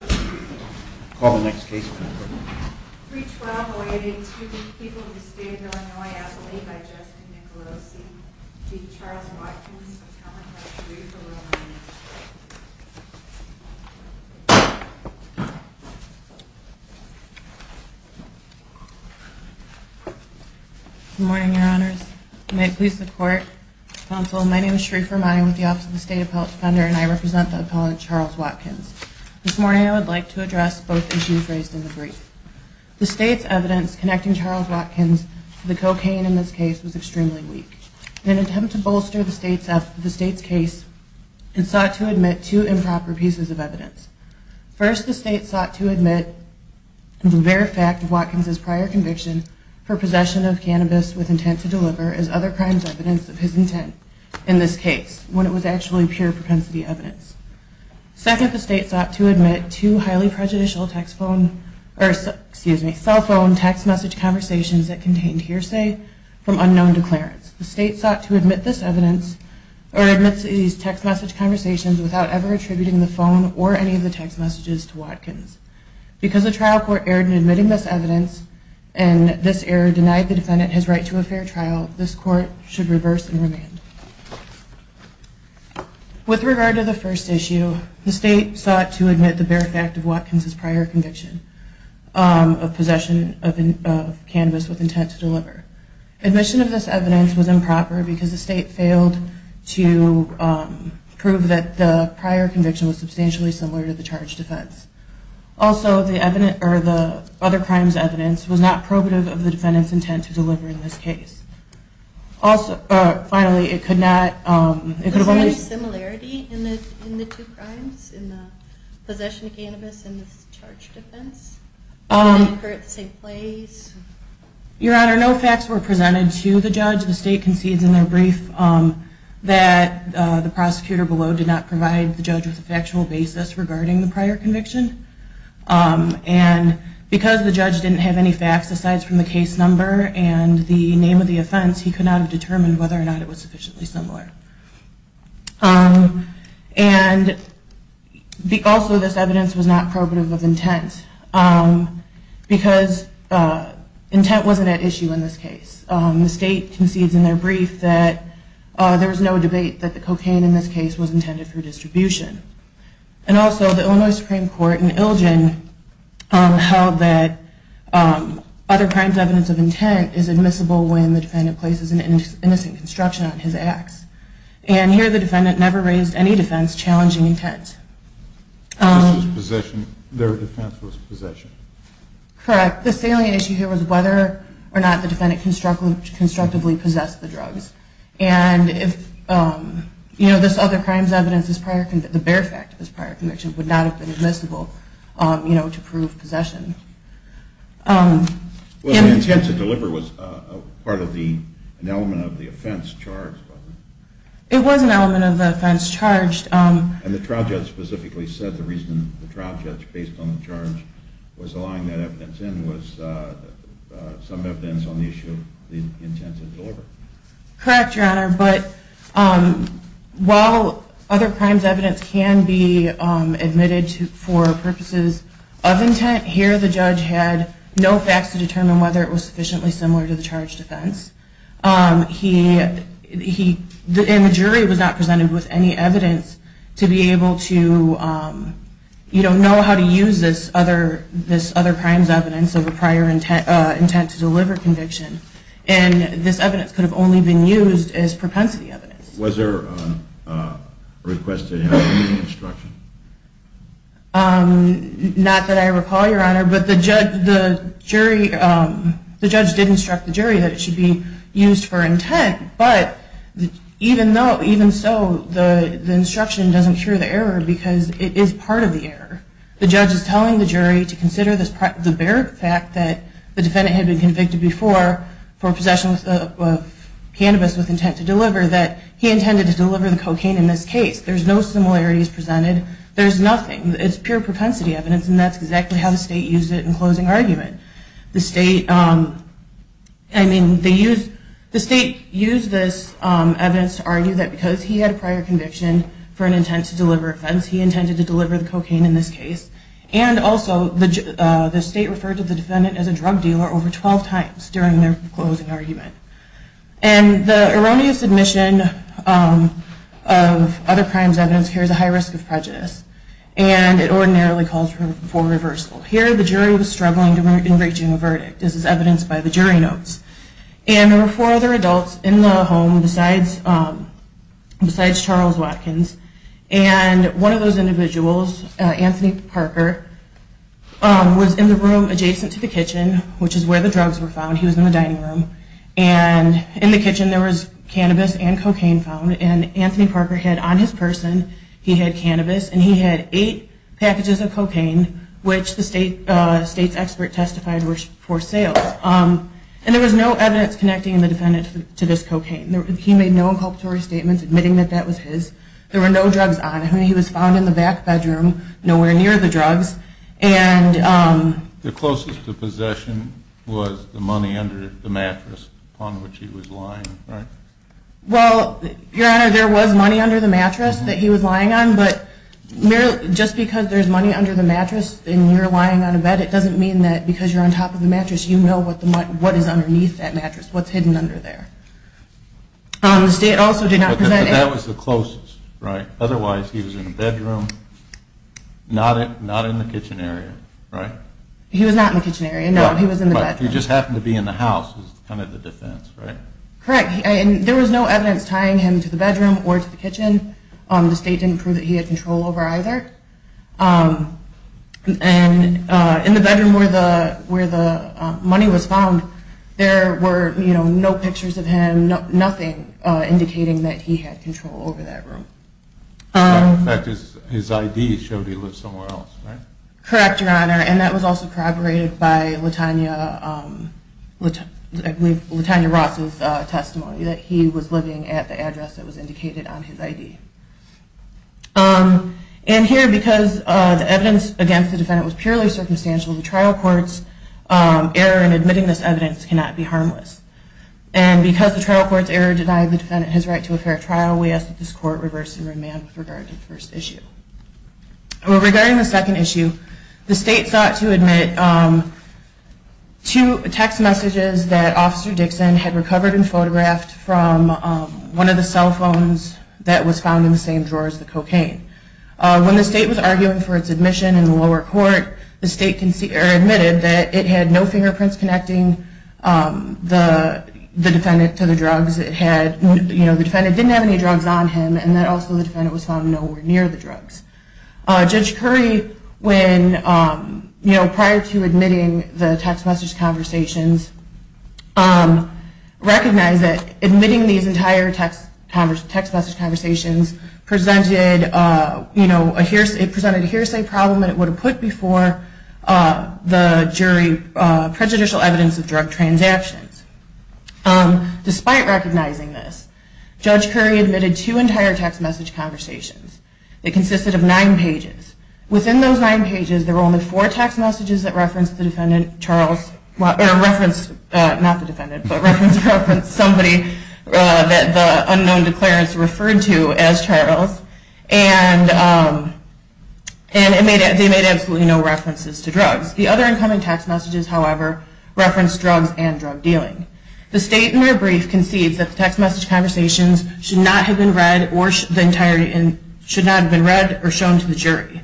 Good morning, Your Honors. May it please the Court, Counsel, my name is Sheree Firmani with the Office of the State Defender, and I represent the Appellant Charles Watkins. This morning I would like to address both issues raised in the brief. The State's evidence connecting Charles Watkins to the cocaine in this case was extremely weak. In an attempt to bolster the State's case, it sought to admit two improper pieces of evidence. First, the State sought to admit the very fact of Watkins' prior conviction for possession of cannabis with intent to deliver as other crimes evidence of his intent in this case, when it was actually pure propensity evidence. Second, the State sought to admit two highly prejudicial cell phone text message conversations that contained hearsay from unknown declarants. The State sought to admit these text message conversations without ever attributing the phone or any of the text messages to Watkins. Because the trial court erred in admitting this error and denied the defendant his right to a fair trial, this Court should reverse and remand. With regard to the first issue, the State sought to admit the very fact of Watkins' prior conviction of possession of cannabis with intent to deliver. Admission of this evidence was improper because the State failed to prove that the prior conviction was substantially similar to the charged offense. Also, the other crimes evidence was not probative of the defendant's intent to deliver in this case. Also, finally, it could not... Was there any similarity in the two crimes, in the possession of cannabis and the charged offense? Did they occur at the same place? Your Honor, no facts were presented to the judge. The State concedes in their brief that the prosecutor below did not provide the judge with a factual basis regarding the prior conviction. And because the judge didn't have any facts aside from the case number and the name of the offense, he could not have determined whether or not it was sufficiently similar. And also, this evidence was not probative of intent because intent wasn't at issue in this case. The State concedes in their brief that there was no debate that the cocaine in this case was intended for distribution. And also, the Illinois Supreme Court in Ilgin held that other crimes evidence of intent is admissible when the defendant places an innocent construction on his ax. And here, the defendant never raised any defense challenging intent. Their defense was possession. Correct. The salient issue here was whether or not the defendant constructively possessed the drugs. And this other crimes evidence, the bare fact of this prior conviction, would not have been admissible to prove possession. Well, the intent to deliver was an element of the offense charged, wasn't it? It was an element of the offense charged. And the trial judge specifically said the reason the trial judge based on the charge was allowing that evidence in was some evidence on the issue of the intent to deliver. Correct, Your Honor. But while other crimes evidence can be admitted for purposes of intent, here the judge had no facts to determine whether it was sufficiently similar to the charged offense. And the jury was not presented with any evidence to be able to know how to use this other crimes evidence of a prior intent to deliver conviction. And this evidence could have only been used as propensity evidence. Was there a request to have any instruction? Not that I recall, Your Honor. But the judge did instruct the jury that it should be used for intent. But even so, the instruction doesn't cure the error because it is part of the error. The judge is telling the jury to consider the bare fact that the defendant had been convicted before for possession of cannabis with intent to deliver that he intended to deliver the cocaine in this case. There's no similarities presented. There's nothing. It's pure propensity evidence, and that's exactly how the state used it in closing argument. The state used this evidence to argue that because he had a prior conviction for an intent to deliver offense, he intended to deliver the cocaine in this case. And also, the state referred to the defendant as a drug dealer over 12 times during their closing argument. And the erroneous admission of other crimes evidence here is a high risk of prejudice, and it ordinarily calls for reversal. Here, the jury was struggling in reaching a verdict. This is evidenced by the jury notes. And there were four other adults in the home besides Charles Watkins. And one of those individuals, Anthony Parker, was in the room adjacent to the kitchen, which is where the drugs were found. He was in the dining room. And in the kitchen, there was cannabis and cocaine found. And Anthony Parker had on his person, he had cannabis and he had eight packages of cocaine, which the state's expert testified were for sale. And there was no evidence connecting the defendant to this cocaine. He made no inculpatory statements admitting that that was his. There were no drugs on him. He was found in the back bedroom, nowhere near the drugs. The closest to possession was the money under the mattress on which he was lying, right? Well, Your Honor, there was money under the mattress that he was lying on. But just because there's money under the mattress and you're lying on a bed, it doesn't mean that because you're on top of the mattress, you know what is underneath that mattress, what's hidden under there. The state also did not present any... But that was the closest, right? Otherwise, he was in the bedroom, not in the kitchen area, right? He was not in the kitchen area, no. He was in the bedroom. But he just happened to be in the house, is kind of the defense, right? Correct. And there was no evidence tying him to the bedroom or to the kitchen. The state didn't prove that he had control over either. And in the bedroom where the money was found, there were no pictures of him, nothing indicating that he had control over that room. In fact, his ID showed he lived somewhere else, right? Correct, Your Honor. And that was also corroborated by Latanya Ross's testimony, that he was living at the address that was indicated on his ID. And here, because the evidence against the defendant was purely circumstantial, the trial court's error in admitting this evidence cannot be harmless. And because the trial court's error denied the defendant his right to a fair trial, we ask that this court reverse the remand with regard to the first issue. Regarding the second issue, the state sought to admit two text messages that Officer Dixon had recovered and photographed from one of the cell phones that was found in the same drawer as the cocaine. When the state was arguing for its admission in the lower court, the state admitted that it had no fingerprints connecting the defendant to the drugs, it had, you know, the defendant didn't have any drugs on him, and that also the defendant was found nowhere near the drugs. Judge Curry, when, you know, prior to admitting the text message conversations, recognized that admitting these entire text message conversations presented, you know, it presented a hearsay problem, and it would have put before the jury prejudicial evidence of drug transactions. Despite recognizing this, Judge Curry admitted two entire text message conversations that consisted of nine pages. Within those nine pages, there were only four text messages that referenced the defendant, Charles, or referenced, not the defendant, but referenced somebody that the unknown declarants referred to as Charles, and they made absolutely no references to drugs. The other incoming text messages, however, referenced drugs and drug dealing. The state, in their brief, concedes that the text message conversations should not have been read or shown to the jury.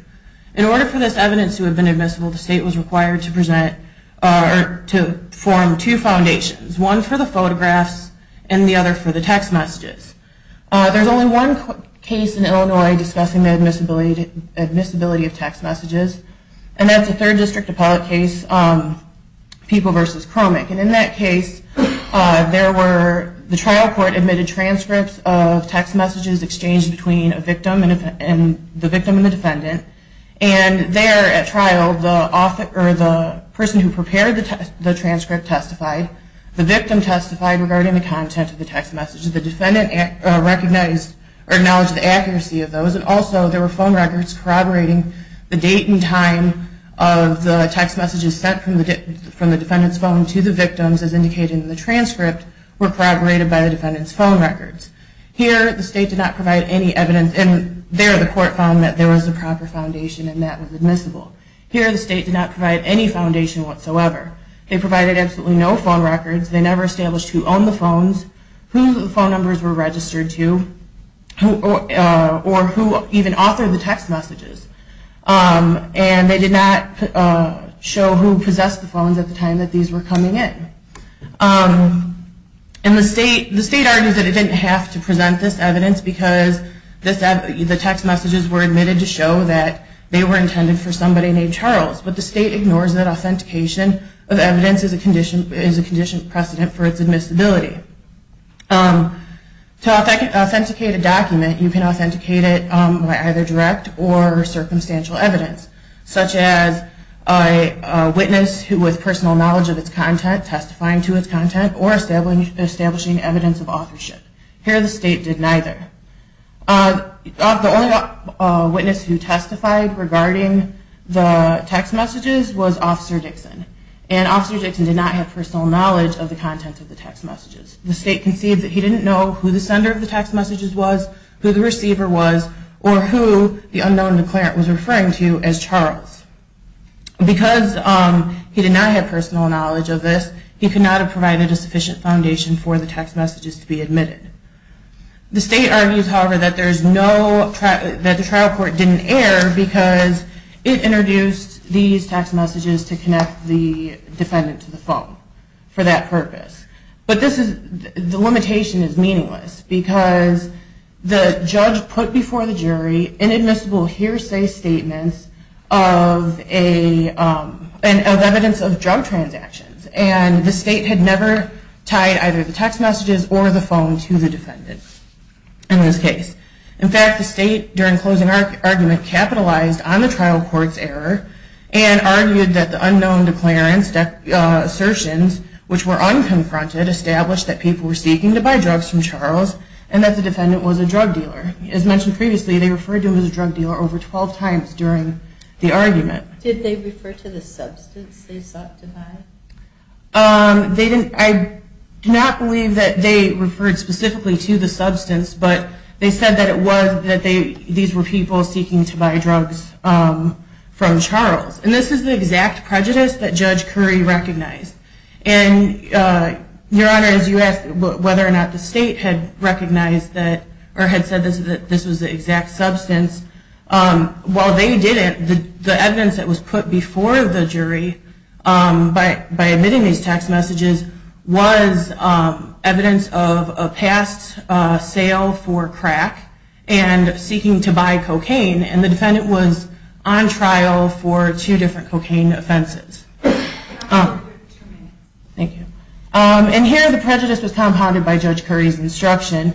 In order for this evidence to have been admissible, the state was required to present or to form two foundations, one for the photographs and the other for the text messages. There's only one case in Illinois discussing the admissibility of text messages, and that's a third district appellate case, People v. Chromic, and in that case, there were, the trial court admitted transcripts of text messages exchanged between the victim and the defendant, and there at trial, the person who prepared the transcript testified, the victim testified regarding the content of the text messages, the defendant acknowledged the accuracy of those, and also there were phone records corroborating the date and time of the text messages sent from the defendant's phone to the victims, as indicated in the transcript, were corroborated by the defendant's phone records. Here, the state did not provide any evidence, and there the court found that there was a proper foundation and that was admissible. Here, the state did not provide any foundation whatsoever. They provided absolutely no phone records, they never established who owned the phones, who the phone numbers were registered to, or who even authored the text messages, and they did not show who possessed the phones at the time that these were coming in. And the state argues that it didn't have to present this evidence because the text messages were admitted to show that they were intended for somebody named Charles, but the state ignores that authentication of evidence is a conditioned precedent for its admissibility. To authenticate a document, you can authenticate it by either direct or circumstantial evidence, such as a witness with personal knowledge of its content testifying to its content or establishing evidence of authorship. Here, the state did neither. The only witness who testified regarding the text messages was Officer Dixon, and Officer Dixon did not have personal knowledge of the contents of the text messages. The state conceived that he didn't know who the sender of the text messages was, who the receiver was, or who the unknown declarant was referring to as Charles. Because he did not have personal knowledge of this, he could not have provided a sufficient foundation for the text messages to be admitted. The state argues, however, that the trial court didn't err because it introduced these text messages to connect the defendant to the phone for that purpose. But the limitation is meaningless, because the judge put before the jury inadmissible hearsay statements of evidence of drug transactions, and the state had never tied either the text messages or the phone to the defendant in this case. In fact, the state, during closing argument, capitalized on the trial court's error and argued that the unknown declarants' assertions, which were unconfronted, established that people were seeking to buy drugs from Charles, and that the defendant was a drug dealer. As mentioned previously, they referred to him as a drug dealer over 12 times during the argument. Did they refer to the substance they sought to buy? I do not believe that they referred specifically to the substance, but they said that it was that these were people seeking to buy drugs from Charles. And this is the exact prejudice that Judge Curry recognized. And, Your Honor, as you asked whether or not the state had recognized that, or had said that this was the exact substance, while they didn't, the evidence that was put before the jury by admitting these text messages was evidence of a past sale for crack and seeking to buy cocaine, and the defendant was on trial for two different cocaine offenses. And here the prejudice was compounded by Judge Curry's instruction.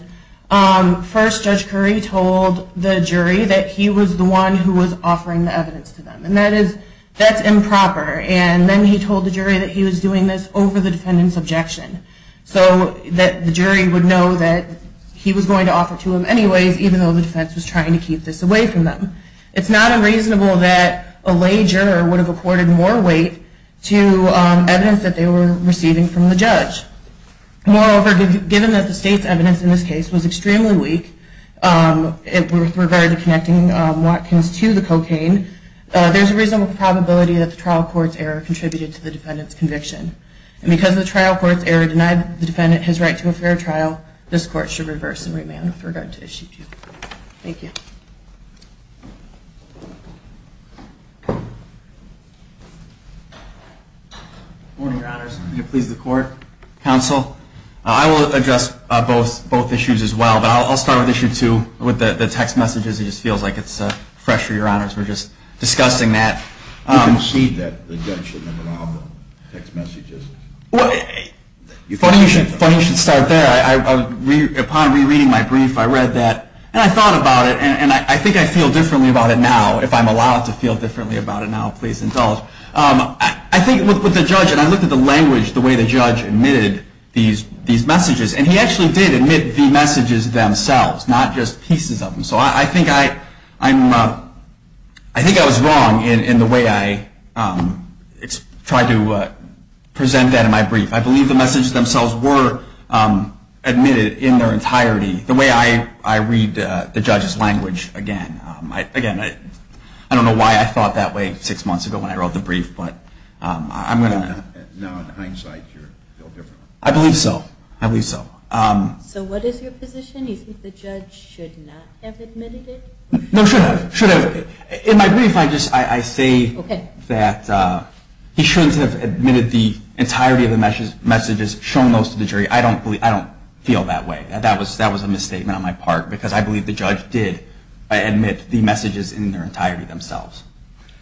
First, Judge Curry told the jury that he was the one who was offering the evidence to them, and that is improper. And then he told the jury that he was doing this over the defendant's objection, so that the jury would know that he was going to offer it to them anyways, even though the defense was trying to keep this away from them. It's not unreasonable that a lay juror would have accorded more weight to evidence that they were receiving from the judge. Moreover, given that the state's evidence in this case was extremely weak with regard to connecting Watkins to the cocaine, there's a reasonable probability that the trial court's error contributed to the defendant's conviction. And because the trial court's error denied the defendant his right to a fair trial, this court should reverse and remand with regard to Issue 2. Thank you. Good morning, Your Honors. Please, the court, counsel. I will address both issues as well, but I'll start with Issue 2, with the text messages. It just feels like it's fresh for Your Honors. We're just discussing that. You concede that the judge shouldn't have allowed the text messages. Funny you should start there. Upon rereading my brief, I read that, and I thought about it, and I think I feel differently about it now. If I'm allowed to feel differently about it now, please indulge. I think with the judge, and I looked at the language, the way the judge admitted these messages, and he actually did admit the messages themselves, not just pieces of them. So I think I was wrong in the way I tried to present that in my brief. I believe the messages themselves were admitted in their entirety, the way I read the judge's language again. Again, I don't know why I thought that way six months ago when I wrote the brief, but I'm going to. Now, in hindsight, you feel different. I believe so. I believe so. So what is your position? Do you think the judge should not have admitted it? No, should have. Should have. In my brief, I say that he shouldn't have admitted the entirety of the messages, shown those to the jury. I don't feel that way. That was a misstatement on my part, because I believe the judge did admit the messages in their entirety themselves.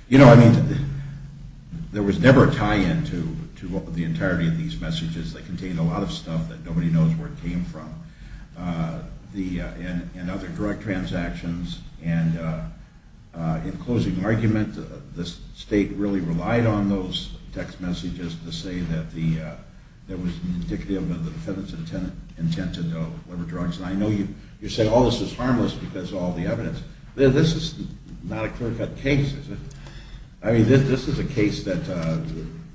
You know, I mean, there was never a tie-in to the entirety of these messages. They contained a lot of stuff that nobody knows where it came from and other direct transactions. And in closing argument, the state really relied on those text messages to say that there was indicative of the defendant's intent to deliver drugs. And I know you say all this is harmless because of all the evidence. This is not a clear-cut case, is it? I mean, this is a case that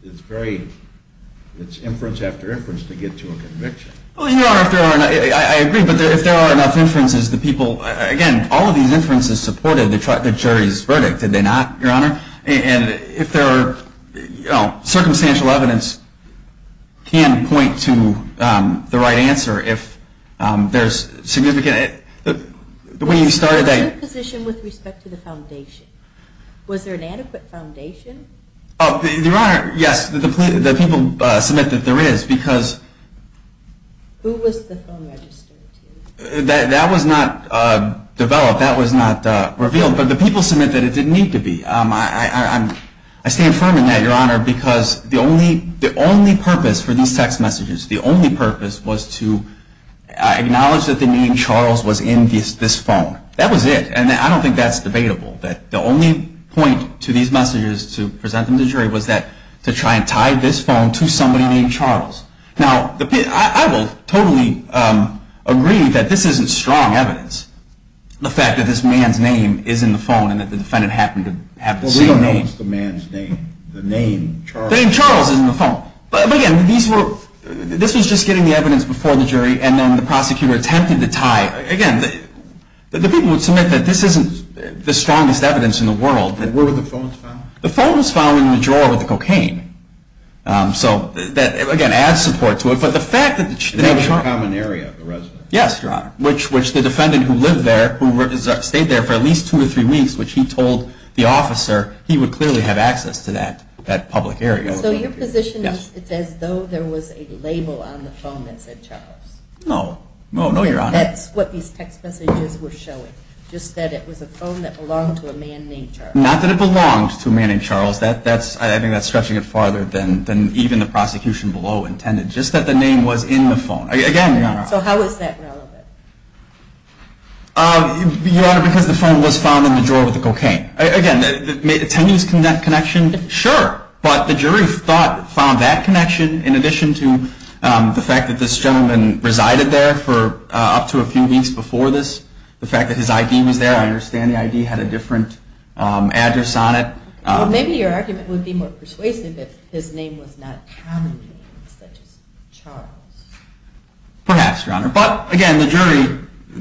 it's very – it's inference after inference to get to a conviction. Well, Your Honor, I agree, but if there are enough inferences, the people – again, all of these inferences supported the jury's verdict, did they not, Your Honor? And if there are – you know, circumstantial evidence can point to the right answer. If there's significant – when you started that – What was your position with respect to the foundation? Was there an adequate foundation? Oh, Your Honor, yes. The people submit that there is, because – Who was the phone registered to? That was not developed. That was not revealed. But the people submit that it didn't need to be. I stand firm in that, Your Honor, because the only purpose for these text messages, the only purpose was to acknowledge that the name Charles was in this phone. That was it. And I don't think that's debatable. The only point to these messages, to present them to the jury, was to try and tie this phone to somebody named Charles. Now, I will totally agree that this isn't strong evidence, the fact that this man's name is in the phone and that the defendant happened to have the same name. Well, we don't know it's the man's name. The name Charles. The name Charles is in the phone. But, again, these were – this was just getting the evidence before the jury, and then the prosecutor attempted to tie – again, the people would submit that this isn't the strongest evidence in the world. But where were the phones found? The phone was found in the drawer with the cocaine. So that, again, adds support to it. But the fact that – And that was a common area of the residence. Yes, Your Honor, which the defendant who lived there, who stayed there for at least two or three weeks, which he told the officer he would clearly have access to that public area. So your position is it's as though there was a label on the phone that said Charles. No. No, Your Honor. That's what these text messages were showing, just that it was a phone that belonged to a man named Charles. Not that it belonged to a man named Charles. I think that's stretching it farther than even the prosecution below intended, just that the name was in the phone. Again, Your Honor. So how is that relevant? Your Honor, because the phone was found in the drawer with the cocaine. Again, can you tell me that connection? Sure. But the jury found that connection in addition to the fact that this gentleman resided there for up to a few weeks before this, the fact that his ID was there. I understand the ID had a different address on it. Maybe your argument would be more persuasive if his name was not commonly used, such as Charles. Perhaps, Your Honor. But, again, the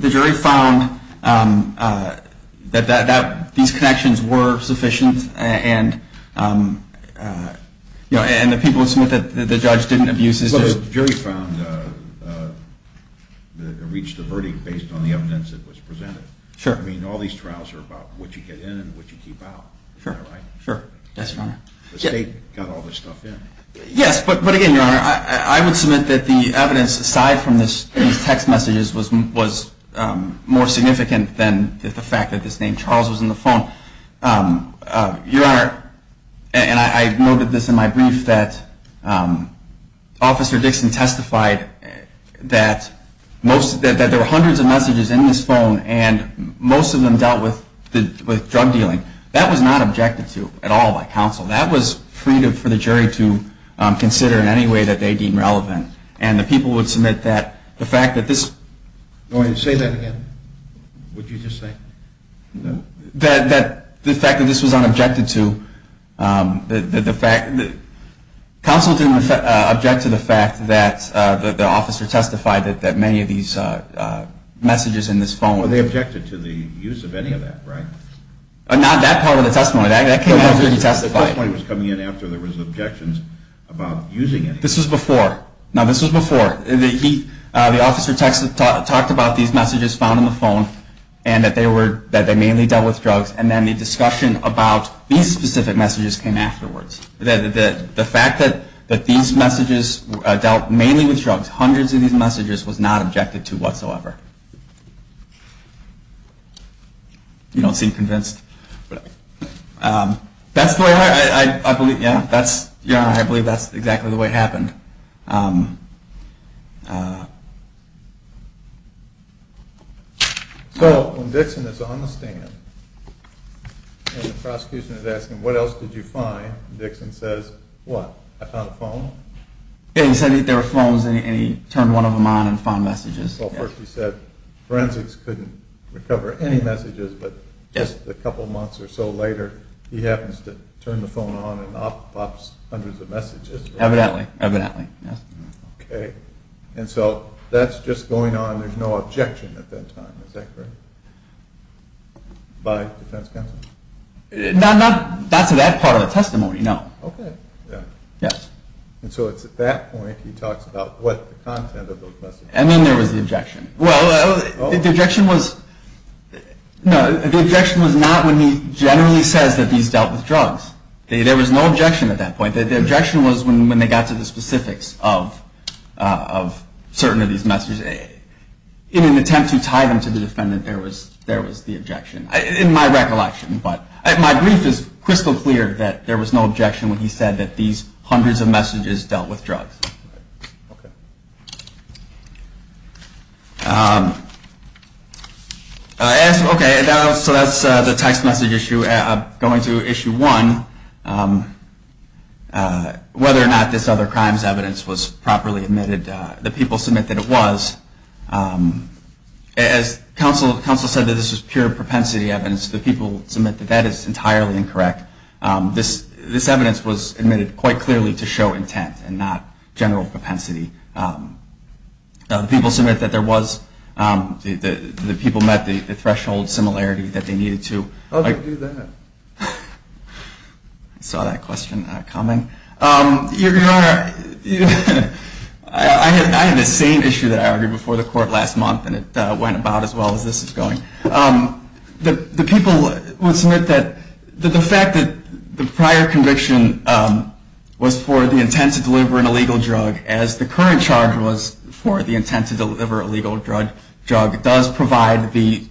jury found that these connections were sufficient, and the people who submit that the judge didn't abuse his. Well, the jury found that it reached a verdict based on the evidence that was presented. Sure. I mean, all these trials are about what you get in and what you keep out. Is that right? Sure. Yes, Your Honor. The state got all this stuff in. Yes. But, again, Your Honor, I would submit that the evidence aside from these text messages was more significant than the fact that this name, Charles, was in the phone. Your Honor, and I noted this in my brief, that Officer Dixon testified that there were most of them dealt with drug dealing. That was not objected to at all by counsel. That was freedom for the jury to consider in any way that they deemed relevant. And the people would submit that the fact that this. Say that again. What did you just say? That the fact that this was not objected to. Counsel didn't object to the fact that the officer testified that many of these messages in this phone. Well, they objected to the use of any of that, right? Not that part of the testimony. That came after he testified. The testimony was coming in after there was objections about using it. This was before. Now, this was before. The officer talked about these messages found in the phone and that they mainly dealt with drugs. And then the discussion about these specific messages came afterwards. The fact that these messages dealt mainly with drugs, hundreds of these messages, this was not objected to whatsoever. You don't seem convinced. That's the way I believe. I believe that's exactly the way it happened. So when Dixon is on the stand and the prosecution is asking, what else did you find? Dixon says, what? I found a phone? He said there were phones and he turned one of them on and found messages. Well, first he said forensics couldn't recover any messages. But just a couple months or so later, he happens to turn the phone on and pops hundreds of messages. Evidently. Evidently. Okay. And so that's just going on. There's no objection at that time. Is that correct? By defense counsel? Not to that part of the testimony, no. Okay. Yes. And so it's at that point he talks about what the content of those messages was. And then there was the objection. Well, the objection was not when he generally says that these dealt with drugs. There was no objection at that point. The objection was when they got to the specifics of certain of these messages. In an attempt to tie them to the defendant, there was the objection, in my recollection. My brief is crystal clear that there was no objection when he said that these hundreds of messages dealt with drugs. Okay. Okay, so that's the text message issue. Going to issue one, whether or not this other crimes evidence was properly admitted, the people submit that it was. As counsel said that this was pure propensity evidence, the people submit that that is entirely incorrect. This evidence was admitted quite clearly to show intent and not general propensity. The people submit that there was. The people met the threshold similarity that they needed to. How did you do that? I saw that question coming. Your Honor, I had the same issue that I argued before the court last month, and it went about as well as this is going. The people would submit that the fact that the prior conviction was for the intent to deliver an illegal drug, as the current charge was for the intent to deliver a legal drug, does provide the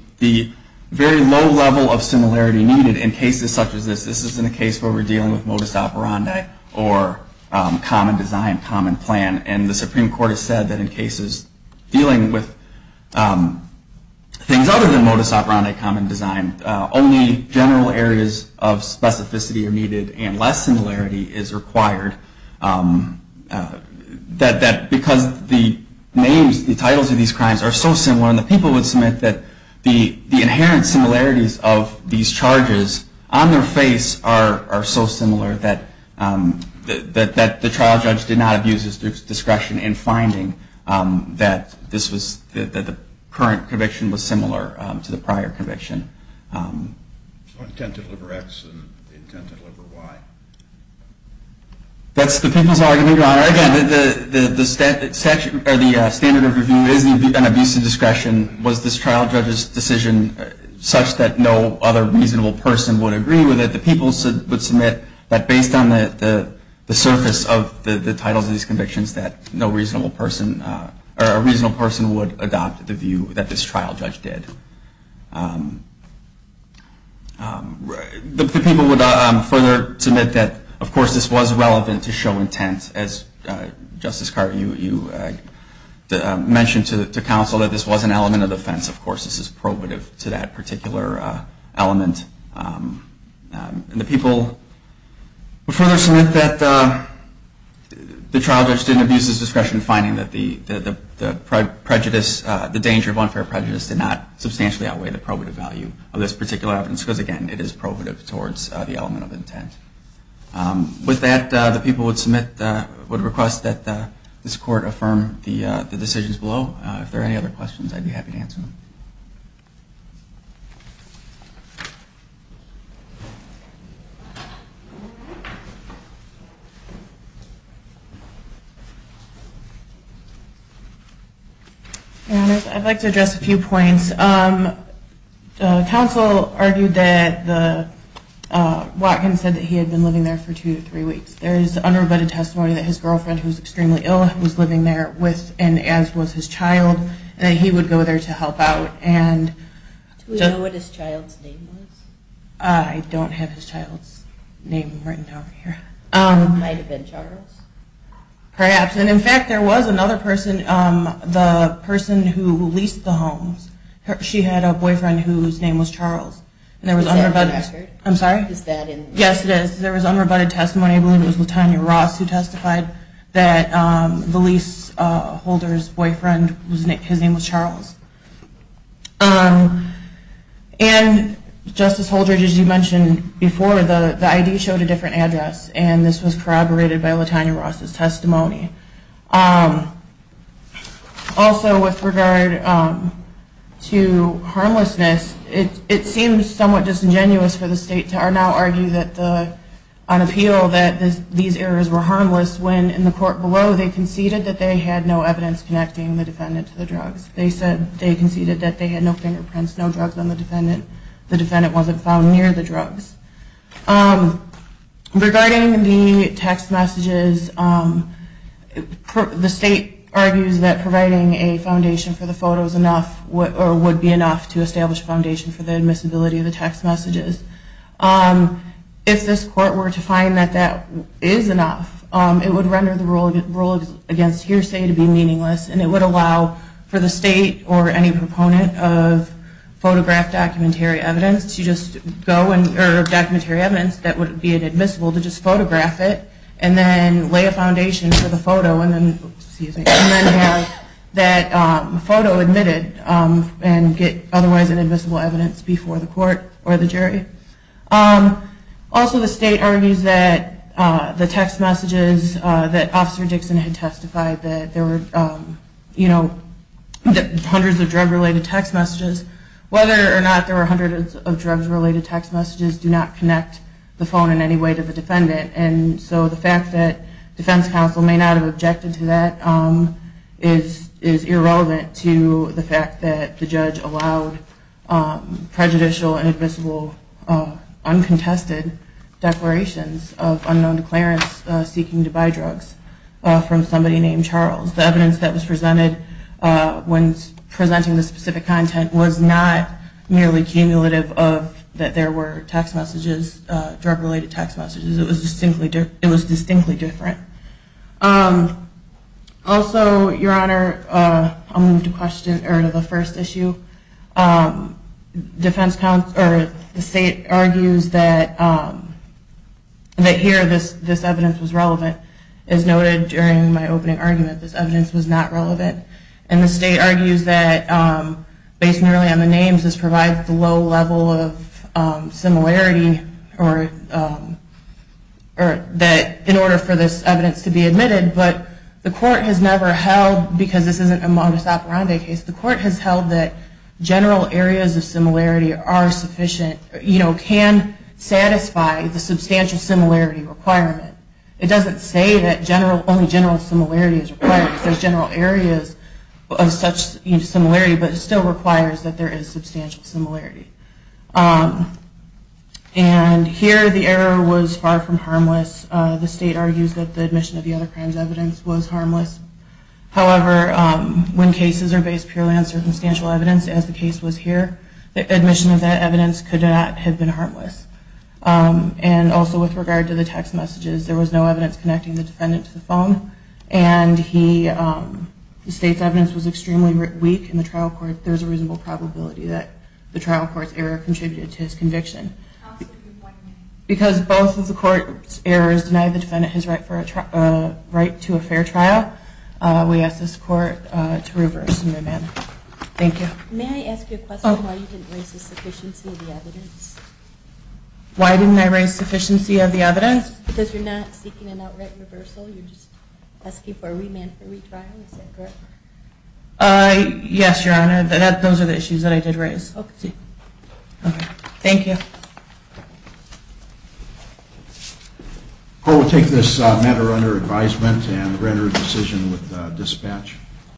very low level of similarity needed in cases such as this. This isn't a case where we're dealing with modus operandi or common design, common plan. And the Supreme Court has said that in cases dealing with things other than modus operandi, common design, only general areas of specificity are needed and less similarity is required. Because the names, the titles of these crimes are so similar, and the people would submit that the inherent similarities of these charges on their face are so similar that the trial judge did not abuse his discretion in finding that the current conviction was similar to the prior conviction. The intent to deliver X and the intent to deliver Y. That's the people's argument, Your Honor. Again, the standard of review isn't an abuse of discretion. Was this trial judge's decision such that no other reasonable person would agree with it? The people would submit that based on the surface of the titles of these convictions, that a reasonable person would adopt the view that this trial judge did. The people would further submit that, of course, this was relevant to show intent. As, Justice Carter, you mentioned to counsel that this was an element of defense. Of course, this is probative to that particular element. And the people would further submit that the trial judge didn't abuse his discretion in finding that the prejudice, the danger of unfair prejudice did not substantially outweigh the probative value of this particular evidence, because, again, it is probative towards the element of intent. With that, the people would request that this Court affirm the decisions below. If there are any other questions, I'd be happy to answer them. I'd like to address a few points. Counsel argued that Watkins said that he had been living there for two to three weeks. There is unrebutted testimony that his girlfriend, who is extremely ill, was living there with and as was his child, and that he would go there to help out. Do we know what his child's name was? I don't have his child's name written down here. It might have been Charles? Perhaps. And, in fact, there was another person, the person who leased the homes. She had a boyfriend whose name was Charles. Is that in the record? I'm sorry? Is that in the record? Yes, it is. There was unrebutted testimony. I believe it was Latonya Ross who testified that the leaseholder's boyfriend, his name was Charles. And, Justice Holdridge, as you mentioned before, the ID showed a different address, and this was corroborated by Latonya Ross' testimony. Also, with regard to harmlessness, it seems somewhat disingenuous for the state to now argue on appeal that these errors were harmless when, in the court below, they conceded that they had no evidence connecting the defendant to the drugs. They conceded that they had no fingerprints, no drugs on the defendant. The defendant wasn't found near the drugs. Regarding the text messages, the state argues that providing a foundation for the photos would be enough to establish a foundation for the admissibility of the text messages. If this court were to find that that is enough, it would render the rule against hearsay to be meaningless, and it would allow for the state or any proponent of photographed documentary evidence to just go and, or documentary evidence that would be inadmissible, to just photograph it and then lay a foundation for the photo and then have that photo admitted and get otherwise inadmissible evidence before the court or the jury. Also, the state argues that the text messages that Officer Dixon had testified that there were, you know, hundreds of drug-related text messages, whether or not there were hundreds of drugs-related text messages, do not connect the phone in any way to the defendant. And so the fact that defense counsel may not have objected to that is irrelevant to the fact that the judge allowed prejudicial and admissible uncontested declarations of unknown declarants seeking to buy drugs from somebody named Charles. The evidence that was presented when presenting the specific content was not merely cumulative of that there were text messages, drug-related text messages. It was distinctly different. Also, Your Honor, I'll move to the first issue. The state argues that here this evidence was relevant. As noted during my opening argument, this evidence was not relevant. And the state argues that, based merely on the names, this provides the low level of similarity, or that in order for this evidence to be admitted. But the court has never held, because this isn't a modus operandi case, the court has held that general areas of similarity are sufficient, you know, can satisfy the substantial similarity requirement. It doesn't say that only general similarity is required. It says general areas of such similarity, but it still requires that there is substantial similarity. And here the error was far from harmless. The state argues that the admission of the other crime's evidence was harmless. However, when cases are based purely on circumstantial evidence, as the case was here, the admission of that evidence could not have been harmless. And also with regard to the text messages, there was no evidence connecting the defendant to the phone, and the state's evidence was extremely weak in the trial court. So there's a reasonable probability that the trial court's error contributed to his conviction. Because both of the court's errors denied the defendant his right to a fair trial, we ask this court to reverse and remand. Thank you. May I ask you a question, why you didn't raise the sufficiency of the evidence? Why didn't I raise sufficiency of the evidence? Because you're not seeking an outright reversal, you're just asking for a remand for retrial, is that correct? Yes, Your Honor, those are the issues that I did raise. Okay, thank you. Court will take this matter under advisement and render a decision with dispatch.